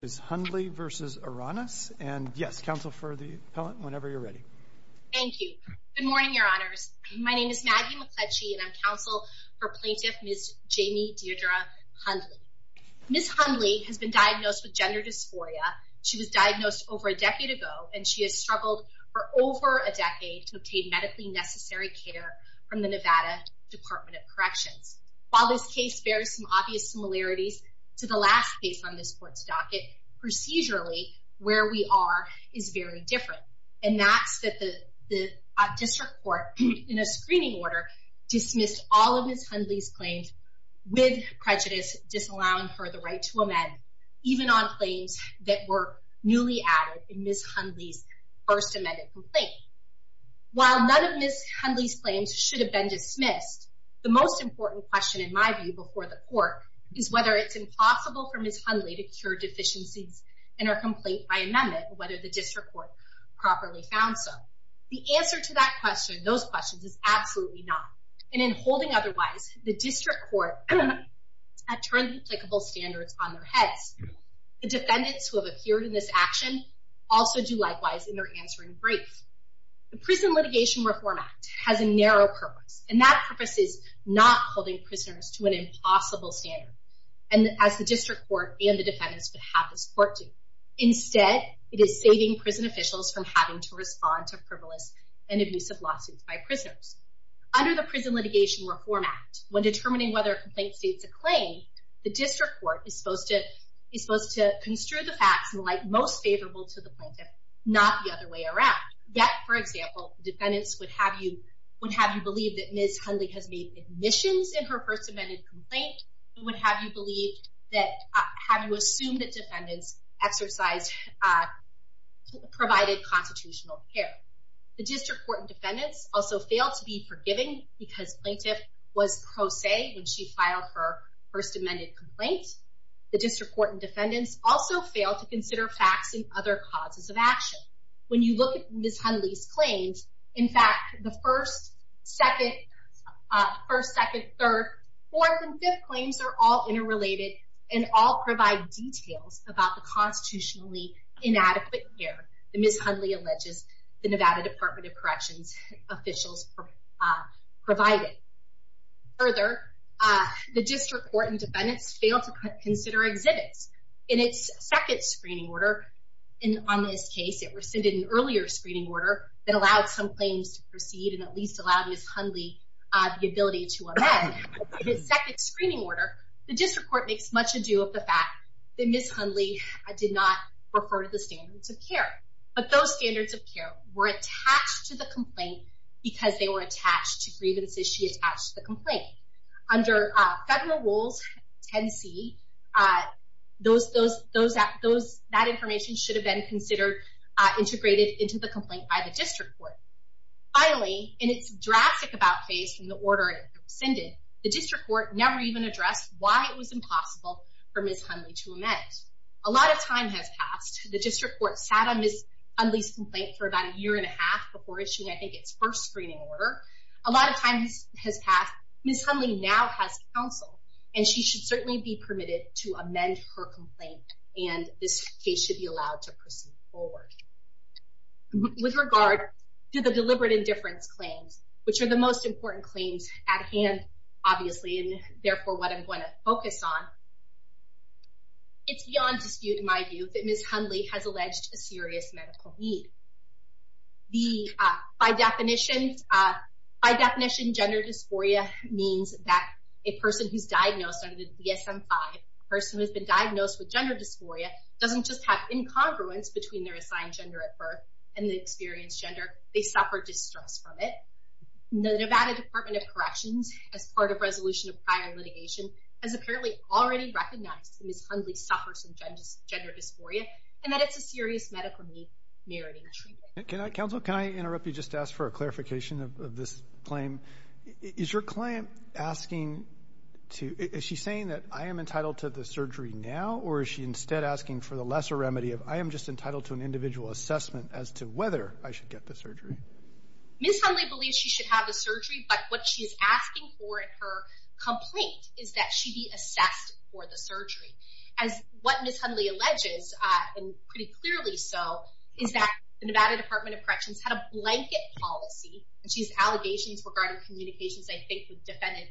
is Hundley versus Aranas and yes counsel for the appellant whenever you're ready thank you good morning your honors my name is Maggie McCledgey and I'm counsel for plaintiff Ms. Jamie Deirdre Hundley. Ms. Hundley has been diagnosed with gender dysphoria she was diagnosed over a decade ago and she has struggled for over a decade to obtain medically necessary care from the Nevada Department of Corrections. While this case bears some obvious similarities to the last case on this court's docket, procedurally where we are is very different and that's that the district court in a screening order dismissed all of Ms. Hundley's claims with prejudice disallowing her the right to amend even on claims that were newly added in Ms. Hundley's first amended complaint. While none of Ms. Hundley's claims should have been dismissed the most important question in my view before the court is whether it's possible for Ms. Hundley to cure deficiencies in her complaint by amendment whether the district court properly found so. The answer to that question those questions is absolutely not and in holding otherwise the district court have turned applicable standards on their heads. The defendants who have appeared in this action also do likewise in their answering briefs. The Prison Litigation Reform Act has a narrow purpose and that purpose is not holding prisoners to an impossible standard and as the district court and the defendants would have this court do. Instead it is saving prison officials from having to respond to frivolous and abusive lawsuits by prisoners. Under the Prison Litigation Reform Act when determining whether a complaint states a claim the district court is supposed to is supposed to construe the facts and like most favorable to the plaintiff not the other way around. Yet for example defendants would have you would have you believe that Ms. Hundley has made admissions in her first amended complaint and would have you believe that have you assumed that defendants exercised provided constitutional care. The district court and defendants also failed to be forgiving because plaintiff was pro se when she filed her first amended complaint. The district court and defendants also failed to consider facts and other causes of action. When you look at Ms. Hundley's claims in fact the first, second, first, second, third, fourth, and fifth claims are all interrelated and all provide details about the constitutionally inadequate care that Ms. Hundley alleges the Nevada Department of Corrections officials provided. Further the district court and defendants failed to consider exhibits. In its second screening order and on this case it screening order that allowed some claims to proceed and at least allowed Ms. Hundley the ability to amend. In its second screening order the district court makes much adieu of the fact that Ms. Hundley did not refer to the standards of care but those standards of care were attached to the complaint because they were attached to grievances she attached to the complaint. Under federal rules 10c those those those that those that information should have been considered integrated into the complaint by the district court. Finally in its drastic about phase in the order it rescinded the district court never even addressed why it was impossible for Ms. Hundley to amend. A lot of time has passed the district court sat on Ms. Hundley's complaint for about a year and a half before issuing I think its first screening order. A lot of times has passed. Ms. Hundley now has counsel and she should certainly be permitted to amend her complaint and this case should be allowed to proceed forward. With regard to the deliberate indifference claims which are the most important claims at hand obviously and therefore what I'm going to focus on it's beyond dispute in my view that Ms. Hundley has alleged a serious medical need. The by definition by definition gender dysphoria means that a person who's diagnosed under the DSM-5 person who has been diagnosed with gender incongruence between their assigned gender at birth and the experienced gender they suffer distress from it. The Nevada Department of Corrections as part of resolution of prior litigation has apparently already recognized Ms. Hundley suffers from gender dysphoria and that it's a serious medical need meriting treatment. Can I counsel can I interrupt you just ask for a clarification of this claim. Is your client asking to is she saying that I am just entitled to an individual assessment as to whether I should get the surgery? Ms. Hundley believes she should have a surgery but what she's asking for in her complaint is that she be assessed for the surgery. As what Ms. Hundley alleges and pretty clearly so is that the Nevada Department of Corrections had a blanket policy and she's allegations regarding communications I think with defendant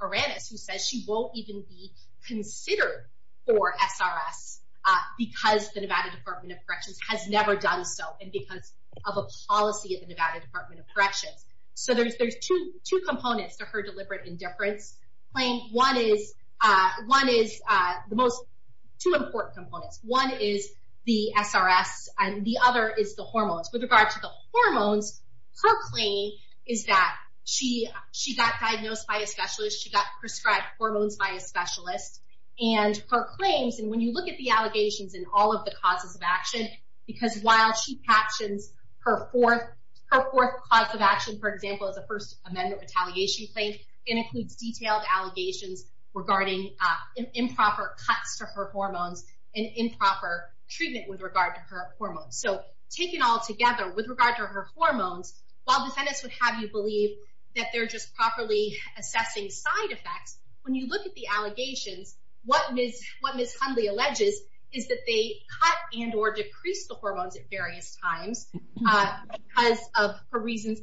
Oranis who says she won't even be SRS because the Nevada Department of Corrections has never done so and because of a policy at the Nevada Department of Corrections. So there's there's two two components to her deliberate indifference claim. One is one is the most two important components. One is the SRS and the other is the hormones. With regard to the hormones her claim is that she she got diagnosed by a specialist she got prescribed hormones by a specialist and her claims in when you look at the allegations in all of the causes of action because while she captions her fourth cause of action for example as a first amendment retaliation claim it includes detailed allegations regarding improper cuts to her hormones and improper treatment with regard to her hormones. So taken all together with regard to her hormones while defendants would have you believe that they're just properly assessing side effects when you look at the allegations what Ms. Hundley alleges is that they cut and or decrease the hormones at various times because of her reasons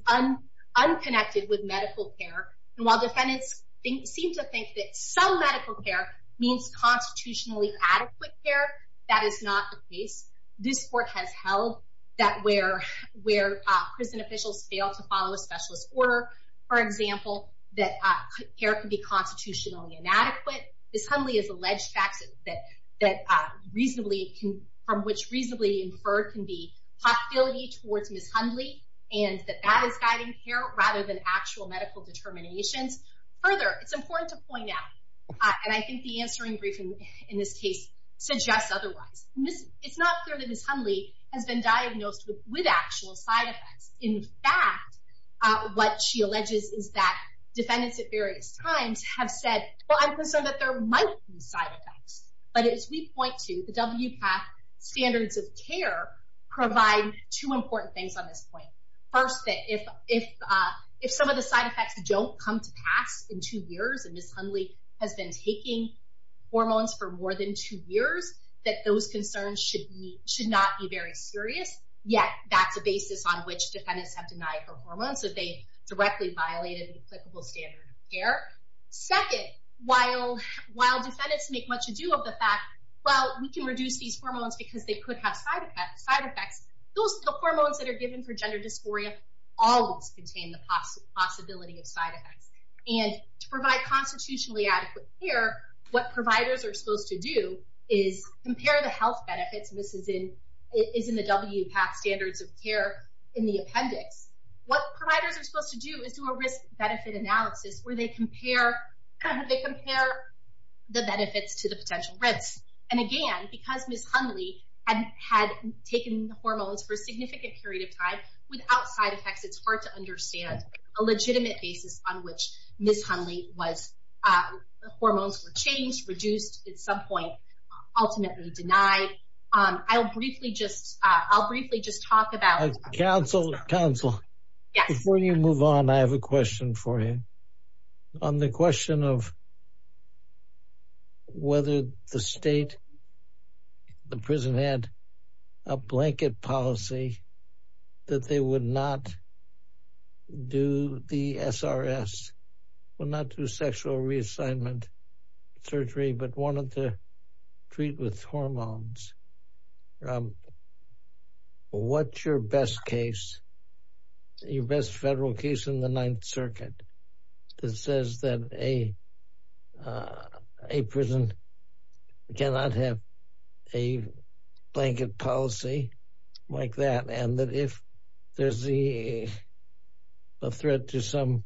unconnected with medical care and while defendants seem to think that some medical care means constitutionally adequate care that is not the case. This court has held that where where prison officials fail to follow a specialist order for example that care could be constitutionally inadequate. Ms. Hundley has alleged facts that that reasonably can from which reasonably inferred can be hostility towards Ms. Hundley and that that is guiding care rather than actual medical determinations. Further it's important to point out and I think the answering briefing in this case suggests otherwise. It's not clear that Ms. Hundley has been diagnosed with actual side effects. In fact what she alleges is that defendants at various times have said well I'm concerned that there might be side effects but as we point to the WPATH standards of care provide two important things on this point. First that if if if some of the side effects don't come to pass in two years and Ms. Hundley has been taking hormones for more than two years that those concerns should be should not be very serious yet that's a basis on which defendants have denied her hormones that they directly violated applicable standard of care. Second while while defendants make much ado of the fact well we can reduce these hormones because they could have side effects those hormones that are given for gender dysphoria always contain the possibility of side effects and to provide constitutionally adequate care what providers are supposed to do is compare the health benefits this is in is in the WPATH standards of care in the appendix. What providers are supposed to do is do a risk-benefit analysis where they compare they compare the benefits to the potential risks and again because Ms. Hundley had had taken hormones for a significant period of time without side effects it's hard to understand a legitimate basis on which Ms. Hundley was the hormones were changed reduced at some point ultimately denied. I'll briefly just I'll briefly just talk counsel counsel before you move on I have a question for you on the question of whether the state the prison had a blanket policy that they would not do the SRS will not do sexual reassignment surgery but wanted to treat with best case your best federal case in the Ninth Circuit that says that a a prison cannot have a blanket policy like that and that if there's the threat to some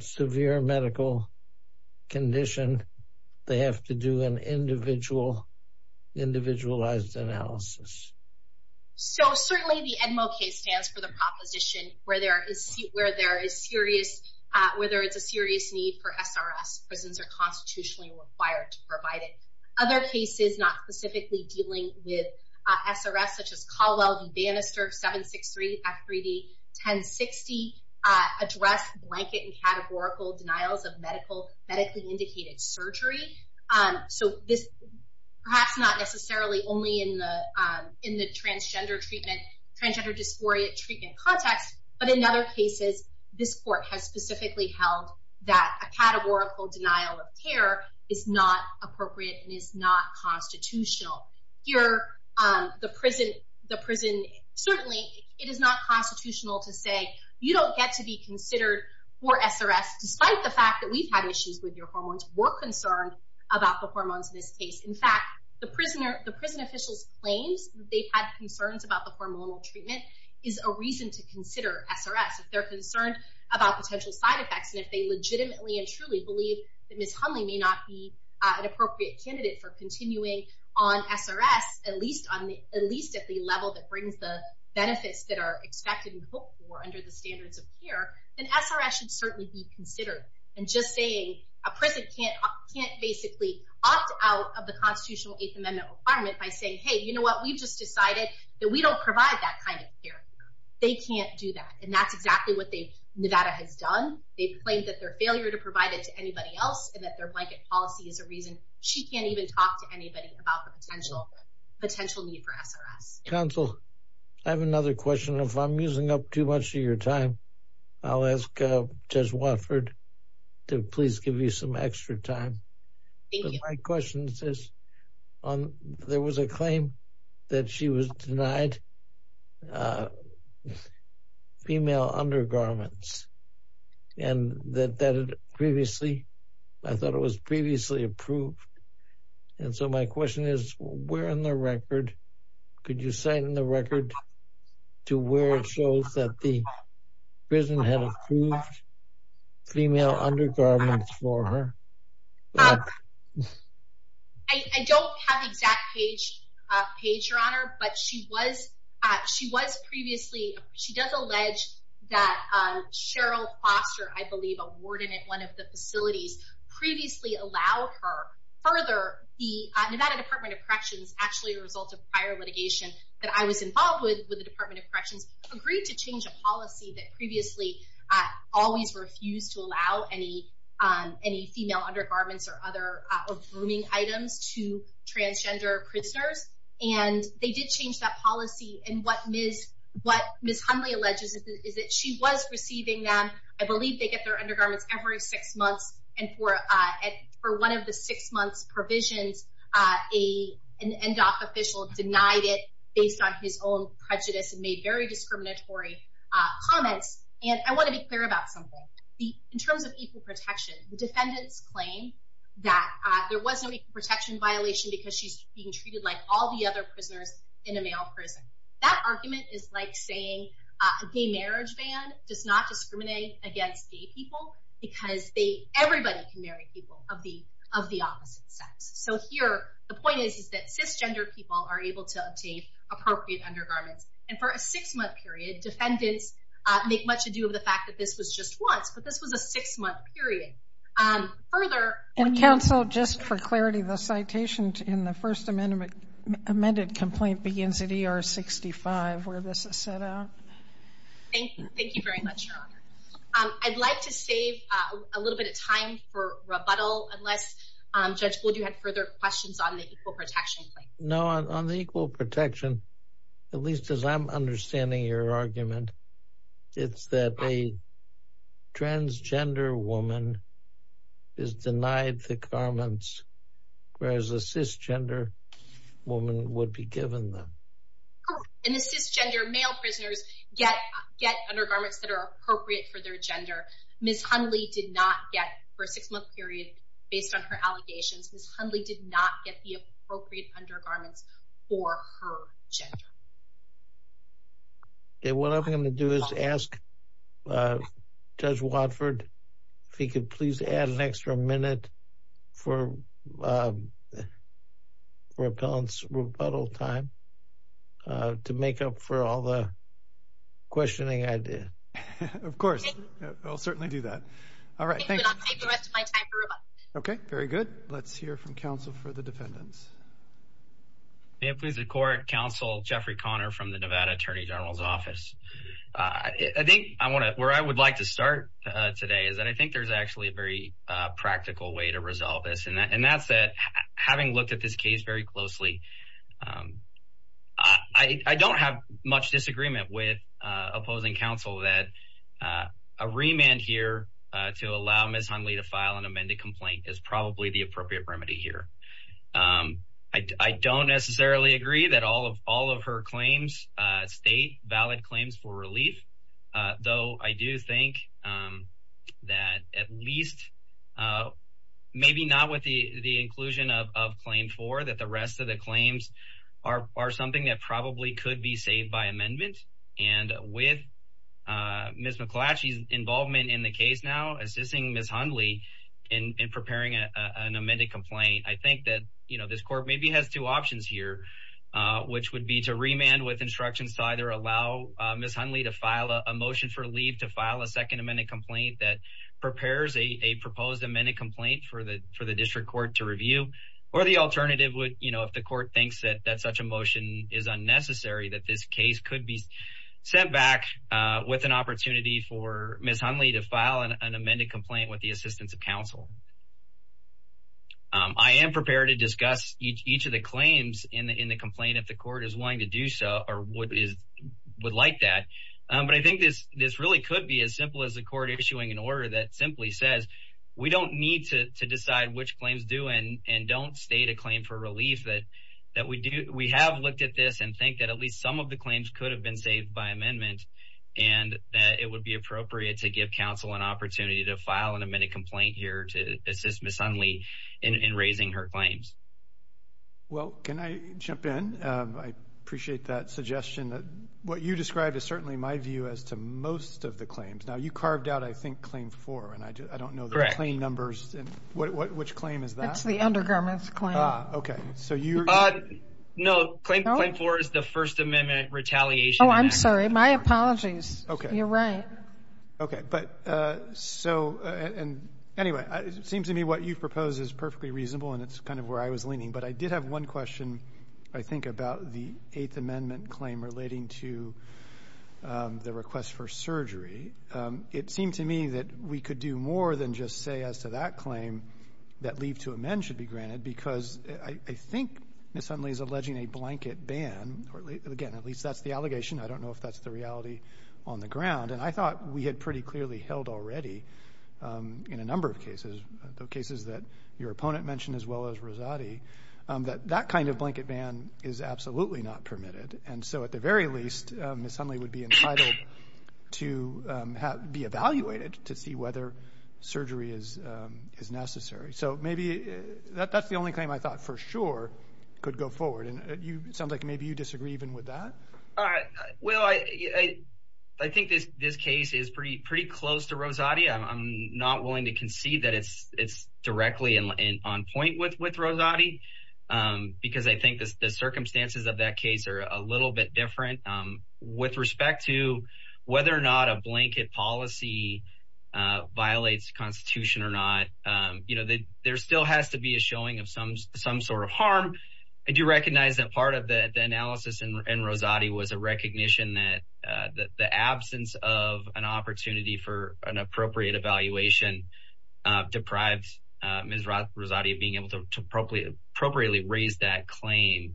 severe medical condition they have to do an individual individualized analysis so certainly the Edmo case stands for the proposition where there is where there is serious whether it's a serious need for SRS prisons are constitutionally required to provide it. Other cases not specifically dealing with SRS such as Caldwell v. Bannister 763 F3D 1060 address blanket and categorical denials of medical medically indicated surgery so this perhaps not necessarily only in in the transgender treatment transgender dysphoria treatment context but in other cases this court has specifically held that a categorical denial of care is not appropriate and is not constitutional here the prison the prison certainly it is not constitutional to say you don't get to be considered for SRS despite the fact that we've had issues with your hormones were concerned about the claims they've had concerns about the hormonal treatment is a reason to consider SRS if they're concerned about potential side effects and if they legitimately and truly believe that Ms. Hunley may not be an appropriate candidate for continuing on SRS at least on the at least at the level that brings the benefits that are expected and hoped for under the standards of care then SRS should certainly be considered and just saying a prison can't can't basically opt out of the constitutional 8th Amendment requirement by saying hey you know what we've just decided that we don't provide that kind of care they can't do that and that's exactly what they Nevada has done they've claimed that their failure to provide it to anybody else and that their blanket policy is a reason she can't even talk to anybody about the potential potential need for SRS counsel I have another question if I'm using up too much of time I'll ask just Watford to please give you some extra time my questions this on there was a claim that she was denied female undergarments and that that previously I thought it was previously approved and so my question is we're in the record could you sign in the record to where it shows that the prison had approved female undergarments for her I don't have exact page page your honor but she was she was previously she does allege that Cheryl Foster I believe a warden at one of the facilities previously allowed her further the Nevada Department of Corrections actually a result of prior litigation that I was involved with with the Department of Corrections agreed to policy that previously I always refused to allow any any female undergarments or other grooming items to transgender prisoners and they did change that policy and what is what miss Hundley alleges is that she was receiving them I believe they get their undergarments every six months and for at for one of the six months provisions a an end-off official denied it based on his own very discriminatory comments and I want to be clear about something in terms of equal protection the defendants claim that there was no protection violation because she's being treated like all the other prisoners in a male prison that argument is like saying a gay marriage ban does not discriminate against gay people because they everybody can marry people of the of the opposite sex so here the point is is that cisgender people are able to obtain appropriate undergarments and for a six-month period defendants make much ado of the fact that this was just once but this was a six-month period further and counsel just for clarity the citation in the first amendment amended complaint begins at er 65 where this is set out I'd like to save a little bit of time for rebuttal unless judge would you have further questions on the equal protection at least as I'm understanding your argument it's that a transgender woman is denied the garments whereas a cisgender woman would be given them and this is gender male prisoners get get undergarments that are appropriate for their gender miss Hundley did not get for a six-month period based on her what I'm going to do is ask judge Watford he could please add an extra minute for repellents rebuttal time to make up for all the questioning I did of course I'll certainly do that all right thank you okay very good let's hear from counsel Jeffrey Connor from the Nevada Attorney General's office I think I want to where I would like to start today is that I think there's actually a very practical way to resolve this and that and that's that having looked at this case very closely I don't have much disagreement with opposing counsel that a remand here to allow miss Hundley to file an amended complaint is probably the appropriate remedy here I don't necessarily agree that all of all of her claims state valid claims for relief though I do think that at least maybe not with the the inclusion of claim for that the rest of the claims are something that probably could be saved by amendment and with miss McClatchy's in the case now assisting miss Hundley in preparing an amended complaint I think that you know this court maybe has two options here which would be to remand with instructions to either allow miss Hundley to file a motion for leave to file a second amended complaint that prepares a proposed amended complaint for the for the district court to review or the alternative would you know if the court thinks that that such a motion is unnecessary that this case could be sent with an opportunity for miss Hundley to file an amended complaint with the assistance of counsel I am prepared to discuss each of the claims in the in the complaint if the court is willing to do so or what is would like that but I think this this really could be as simple as the court issuing an order that simply says we don't need to decide which claims do and and don't state a claim for relief that that we do we have looked at this and think that at least some of the and that it would be appropriate to give counsel an opportunity to file an amended complaint here to assist miss Hundley in raising her claims well can I jump in I appreciate that suggestion that what you described is certainly my view as to most of the claims now you carved out I think claim four and I do I don't know the claim numbers and what which claim is that it's the undergarments claim okay so you know claim claim for is the First Amendment retaliation I'm sorry my apologies okay you're right okay but so and anyway it seems to me what you've proposed is perfectly reasonable and it's kind of where I was leaning but I did have one question I think about the eighth amendment claim relating to the request for surgery it seemed to me that we could do more than just say as to that claim that leave to amend should be that's the allegation I don't know if that's the reality on the ground and I thought we had pretty clearly held already in a number of cases the cases that your opponent mentioned as well as Rosati that that kind of blanket ban is absolutely not permitted and so at the very least Miss Hundley would be entitled to be evaluated to see whether surgery is is necessary so maybe that that's the only claim I thought for sure could go forward and you sound like maybe you disagree even with that all right well I I think this this case is pretty pretty close to Rosati I'm not willing to concede that it's it's directly and on point with with Rosati because I think the circumstances of that case are a little bit different with respect to whether or not a blanket policy violates Constitution or not you know that there still has to be a some sort of harm I do recognize that part of the analysis and Rosati was a recognition that the absence of an opportunity for an appropriate evaluation deprives Miss Rosati of being able to appropriately raise that claim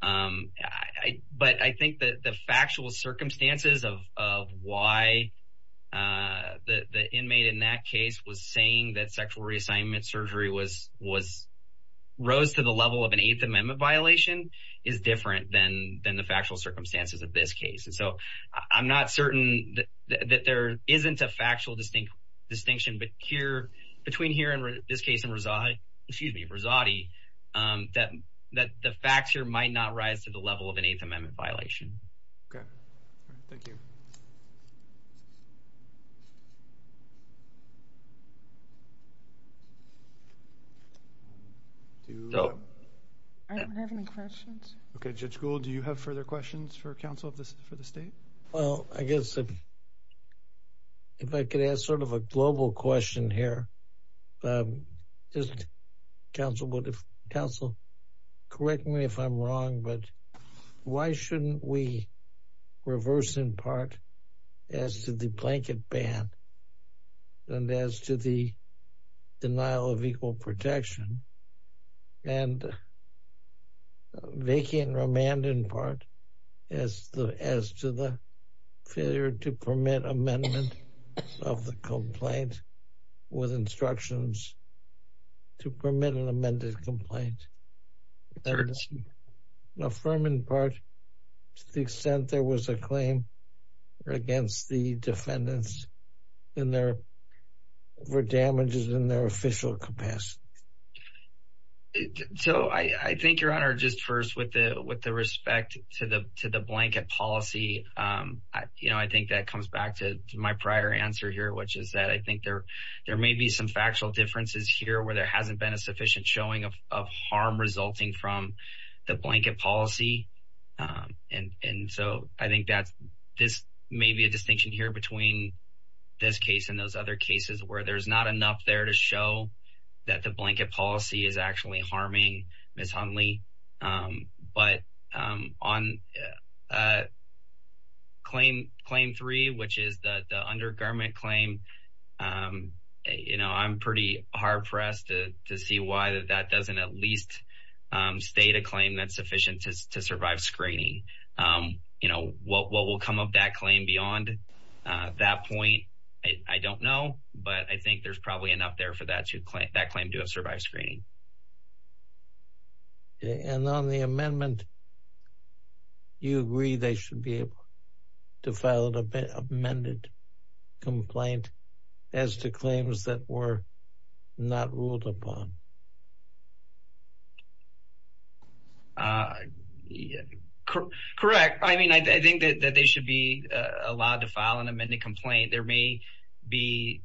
but I think that the factual circumstances of why the the inmate in that case was saying that sexual reassignment surgery was was rose to the level of an Eighth Amendment violation is different than than the factual circumstances of this case and so I'm not certain that there isn't a factual distinct distinction but here between here and this case and Rosati excuse me Rosati that that the facts here might not rise to the level of an Eighth Amendment violation. I don't have any questions okay Judge Gould do you have further questions for counsel of this for the state well I guess if I could ask sort of a global question here just counsel would if counsel correct me if I'm wrong but why shouldn't we reverse in part as to the blanket ban and as to the denial of equal protection and vacant remand in part as the as to the failure to permit amendment of the complaint with instructions to permit an amended complaint. Affirm in part to the extent there was a claim against the defendants and there were damages in their official capacity. So I think your honor just first with the with the respect to the to the blanket policy you know I think that comes back to my prior answer here which is that I think there there may be some factual differences here where there hasn't been a sufficient showing of harm resulting from the blanket policy and and so I think that this may be a distinction here between this case and those other cases where there's not enough there to show that the blanket policy is actually harming Ms. Hundley but on claim claim three which is the undergarment claim you know I'm pretty hard-pressed to see why that that doesn't at least state a claim that's sufficient to survive screening you know what will come of that claim beyond that point I don't know but I think there's probably enough there for that to claim that claim to have survived screening. And on the amendment you agree they should be able to file an amended complaint as to claims that were not ruled upon. Correct I mean I think that they should be allowed to file an amended complaint there may be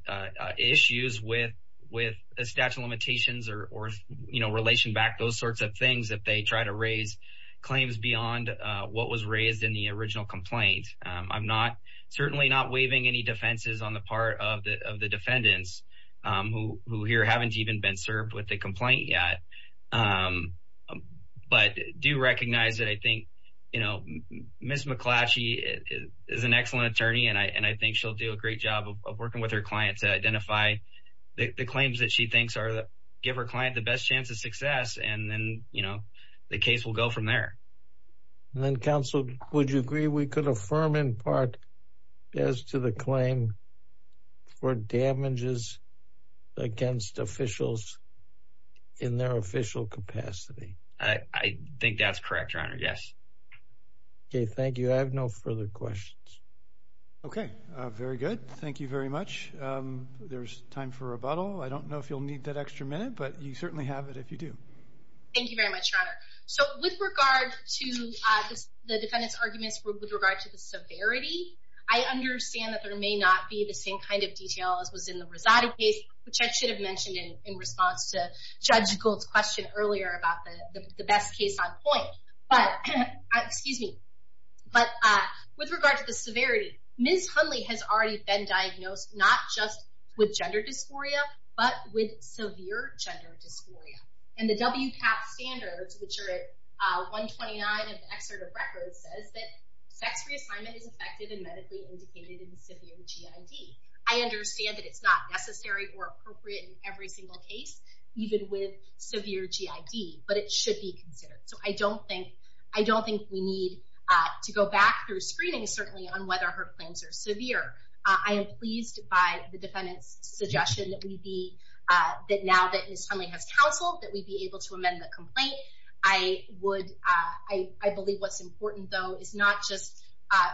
issues with with a statute of limitations or you know relation back those sorts of things that they try to raise claims beyond what was raised in the original complaint. I'm not certainly not waiving any defenses on the part of the defendants who here haven't even been served with the complaint yet but do recognize that I think you know Ms. McClatchy is an excellent attorney and I and I think she'll do a great job of working with her clients to identify the claims that she thinks are that give her client the best chance of success and then you know the case will go from there. And then counsel would you agree we could affirm in part as to the claim for damages against officials in their official capacity? I think that's correct your honor yes. Okay thank you I have no further questions. Okay very good thank you very much there's time for rebuttal I don't know if you'll need that extra minute but you certainly have it if you do. Thank you very much your honor. So with regard to the defendants arguments with regard to the severity I understand that there may not be the same kind of detail as was in the Rosati case which I should have mentioned in response to Judge Gould's question earlier about the best case on point but excuse me but with regard to the severity Ms. Hundley has already been diagnosed not just with and the WCAP standards which are at 129 of the excerpt of records says that sex reassignment is affected and medically indicated in severe GID. I understand that it's not necessary or appropriate in every single case even with severe GID but it should be considered so I don't think I don't think we need to go back through screening certainly on whether her claims are severe. I am pleased by the defendant's suggestion that we be that now that Ms. Hundley has counseled that we be able to amend the complaint. I would I believe what's important though is not just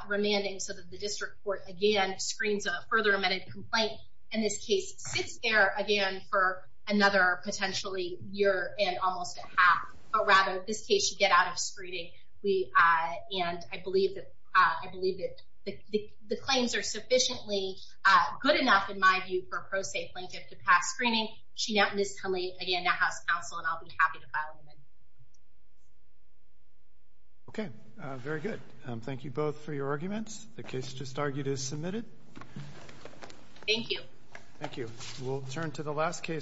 remanding so that the district court again screens a further amended complaint and this case sits there again for another potentially year and almost a half but rather this case should get out of screening we and I believe that I believe that the claims are sufficiently good enough in my view for a pro-safe plaintiff to pass screening. She now Ms. Hundley again now has counsel and I'll be happy to file an amendment. Okay very good. Thank you both for your arguments. The case just argued is submitted. Thank you. Thank you. We'll turn to the last case.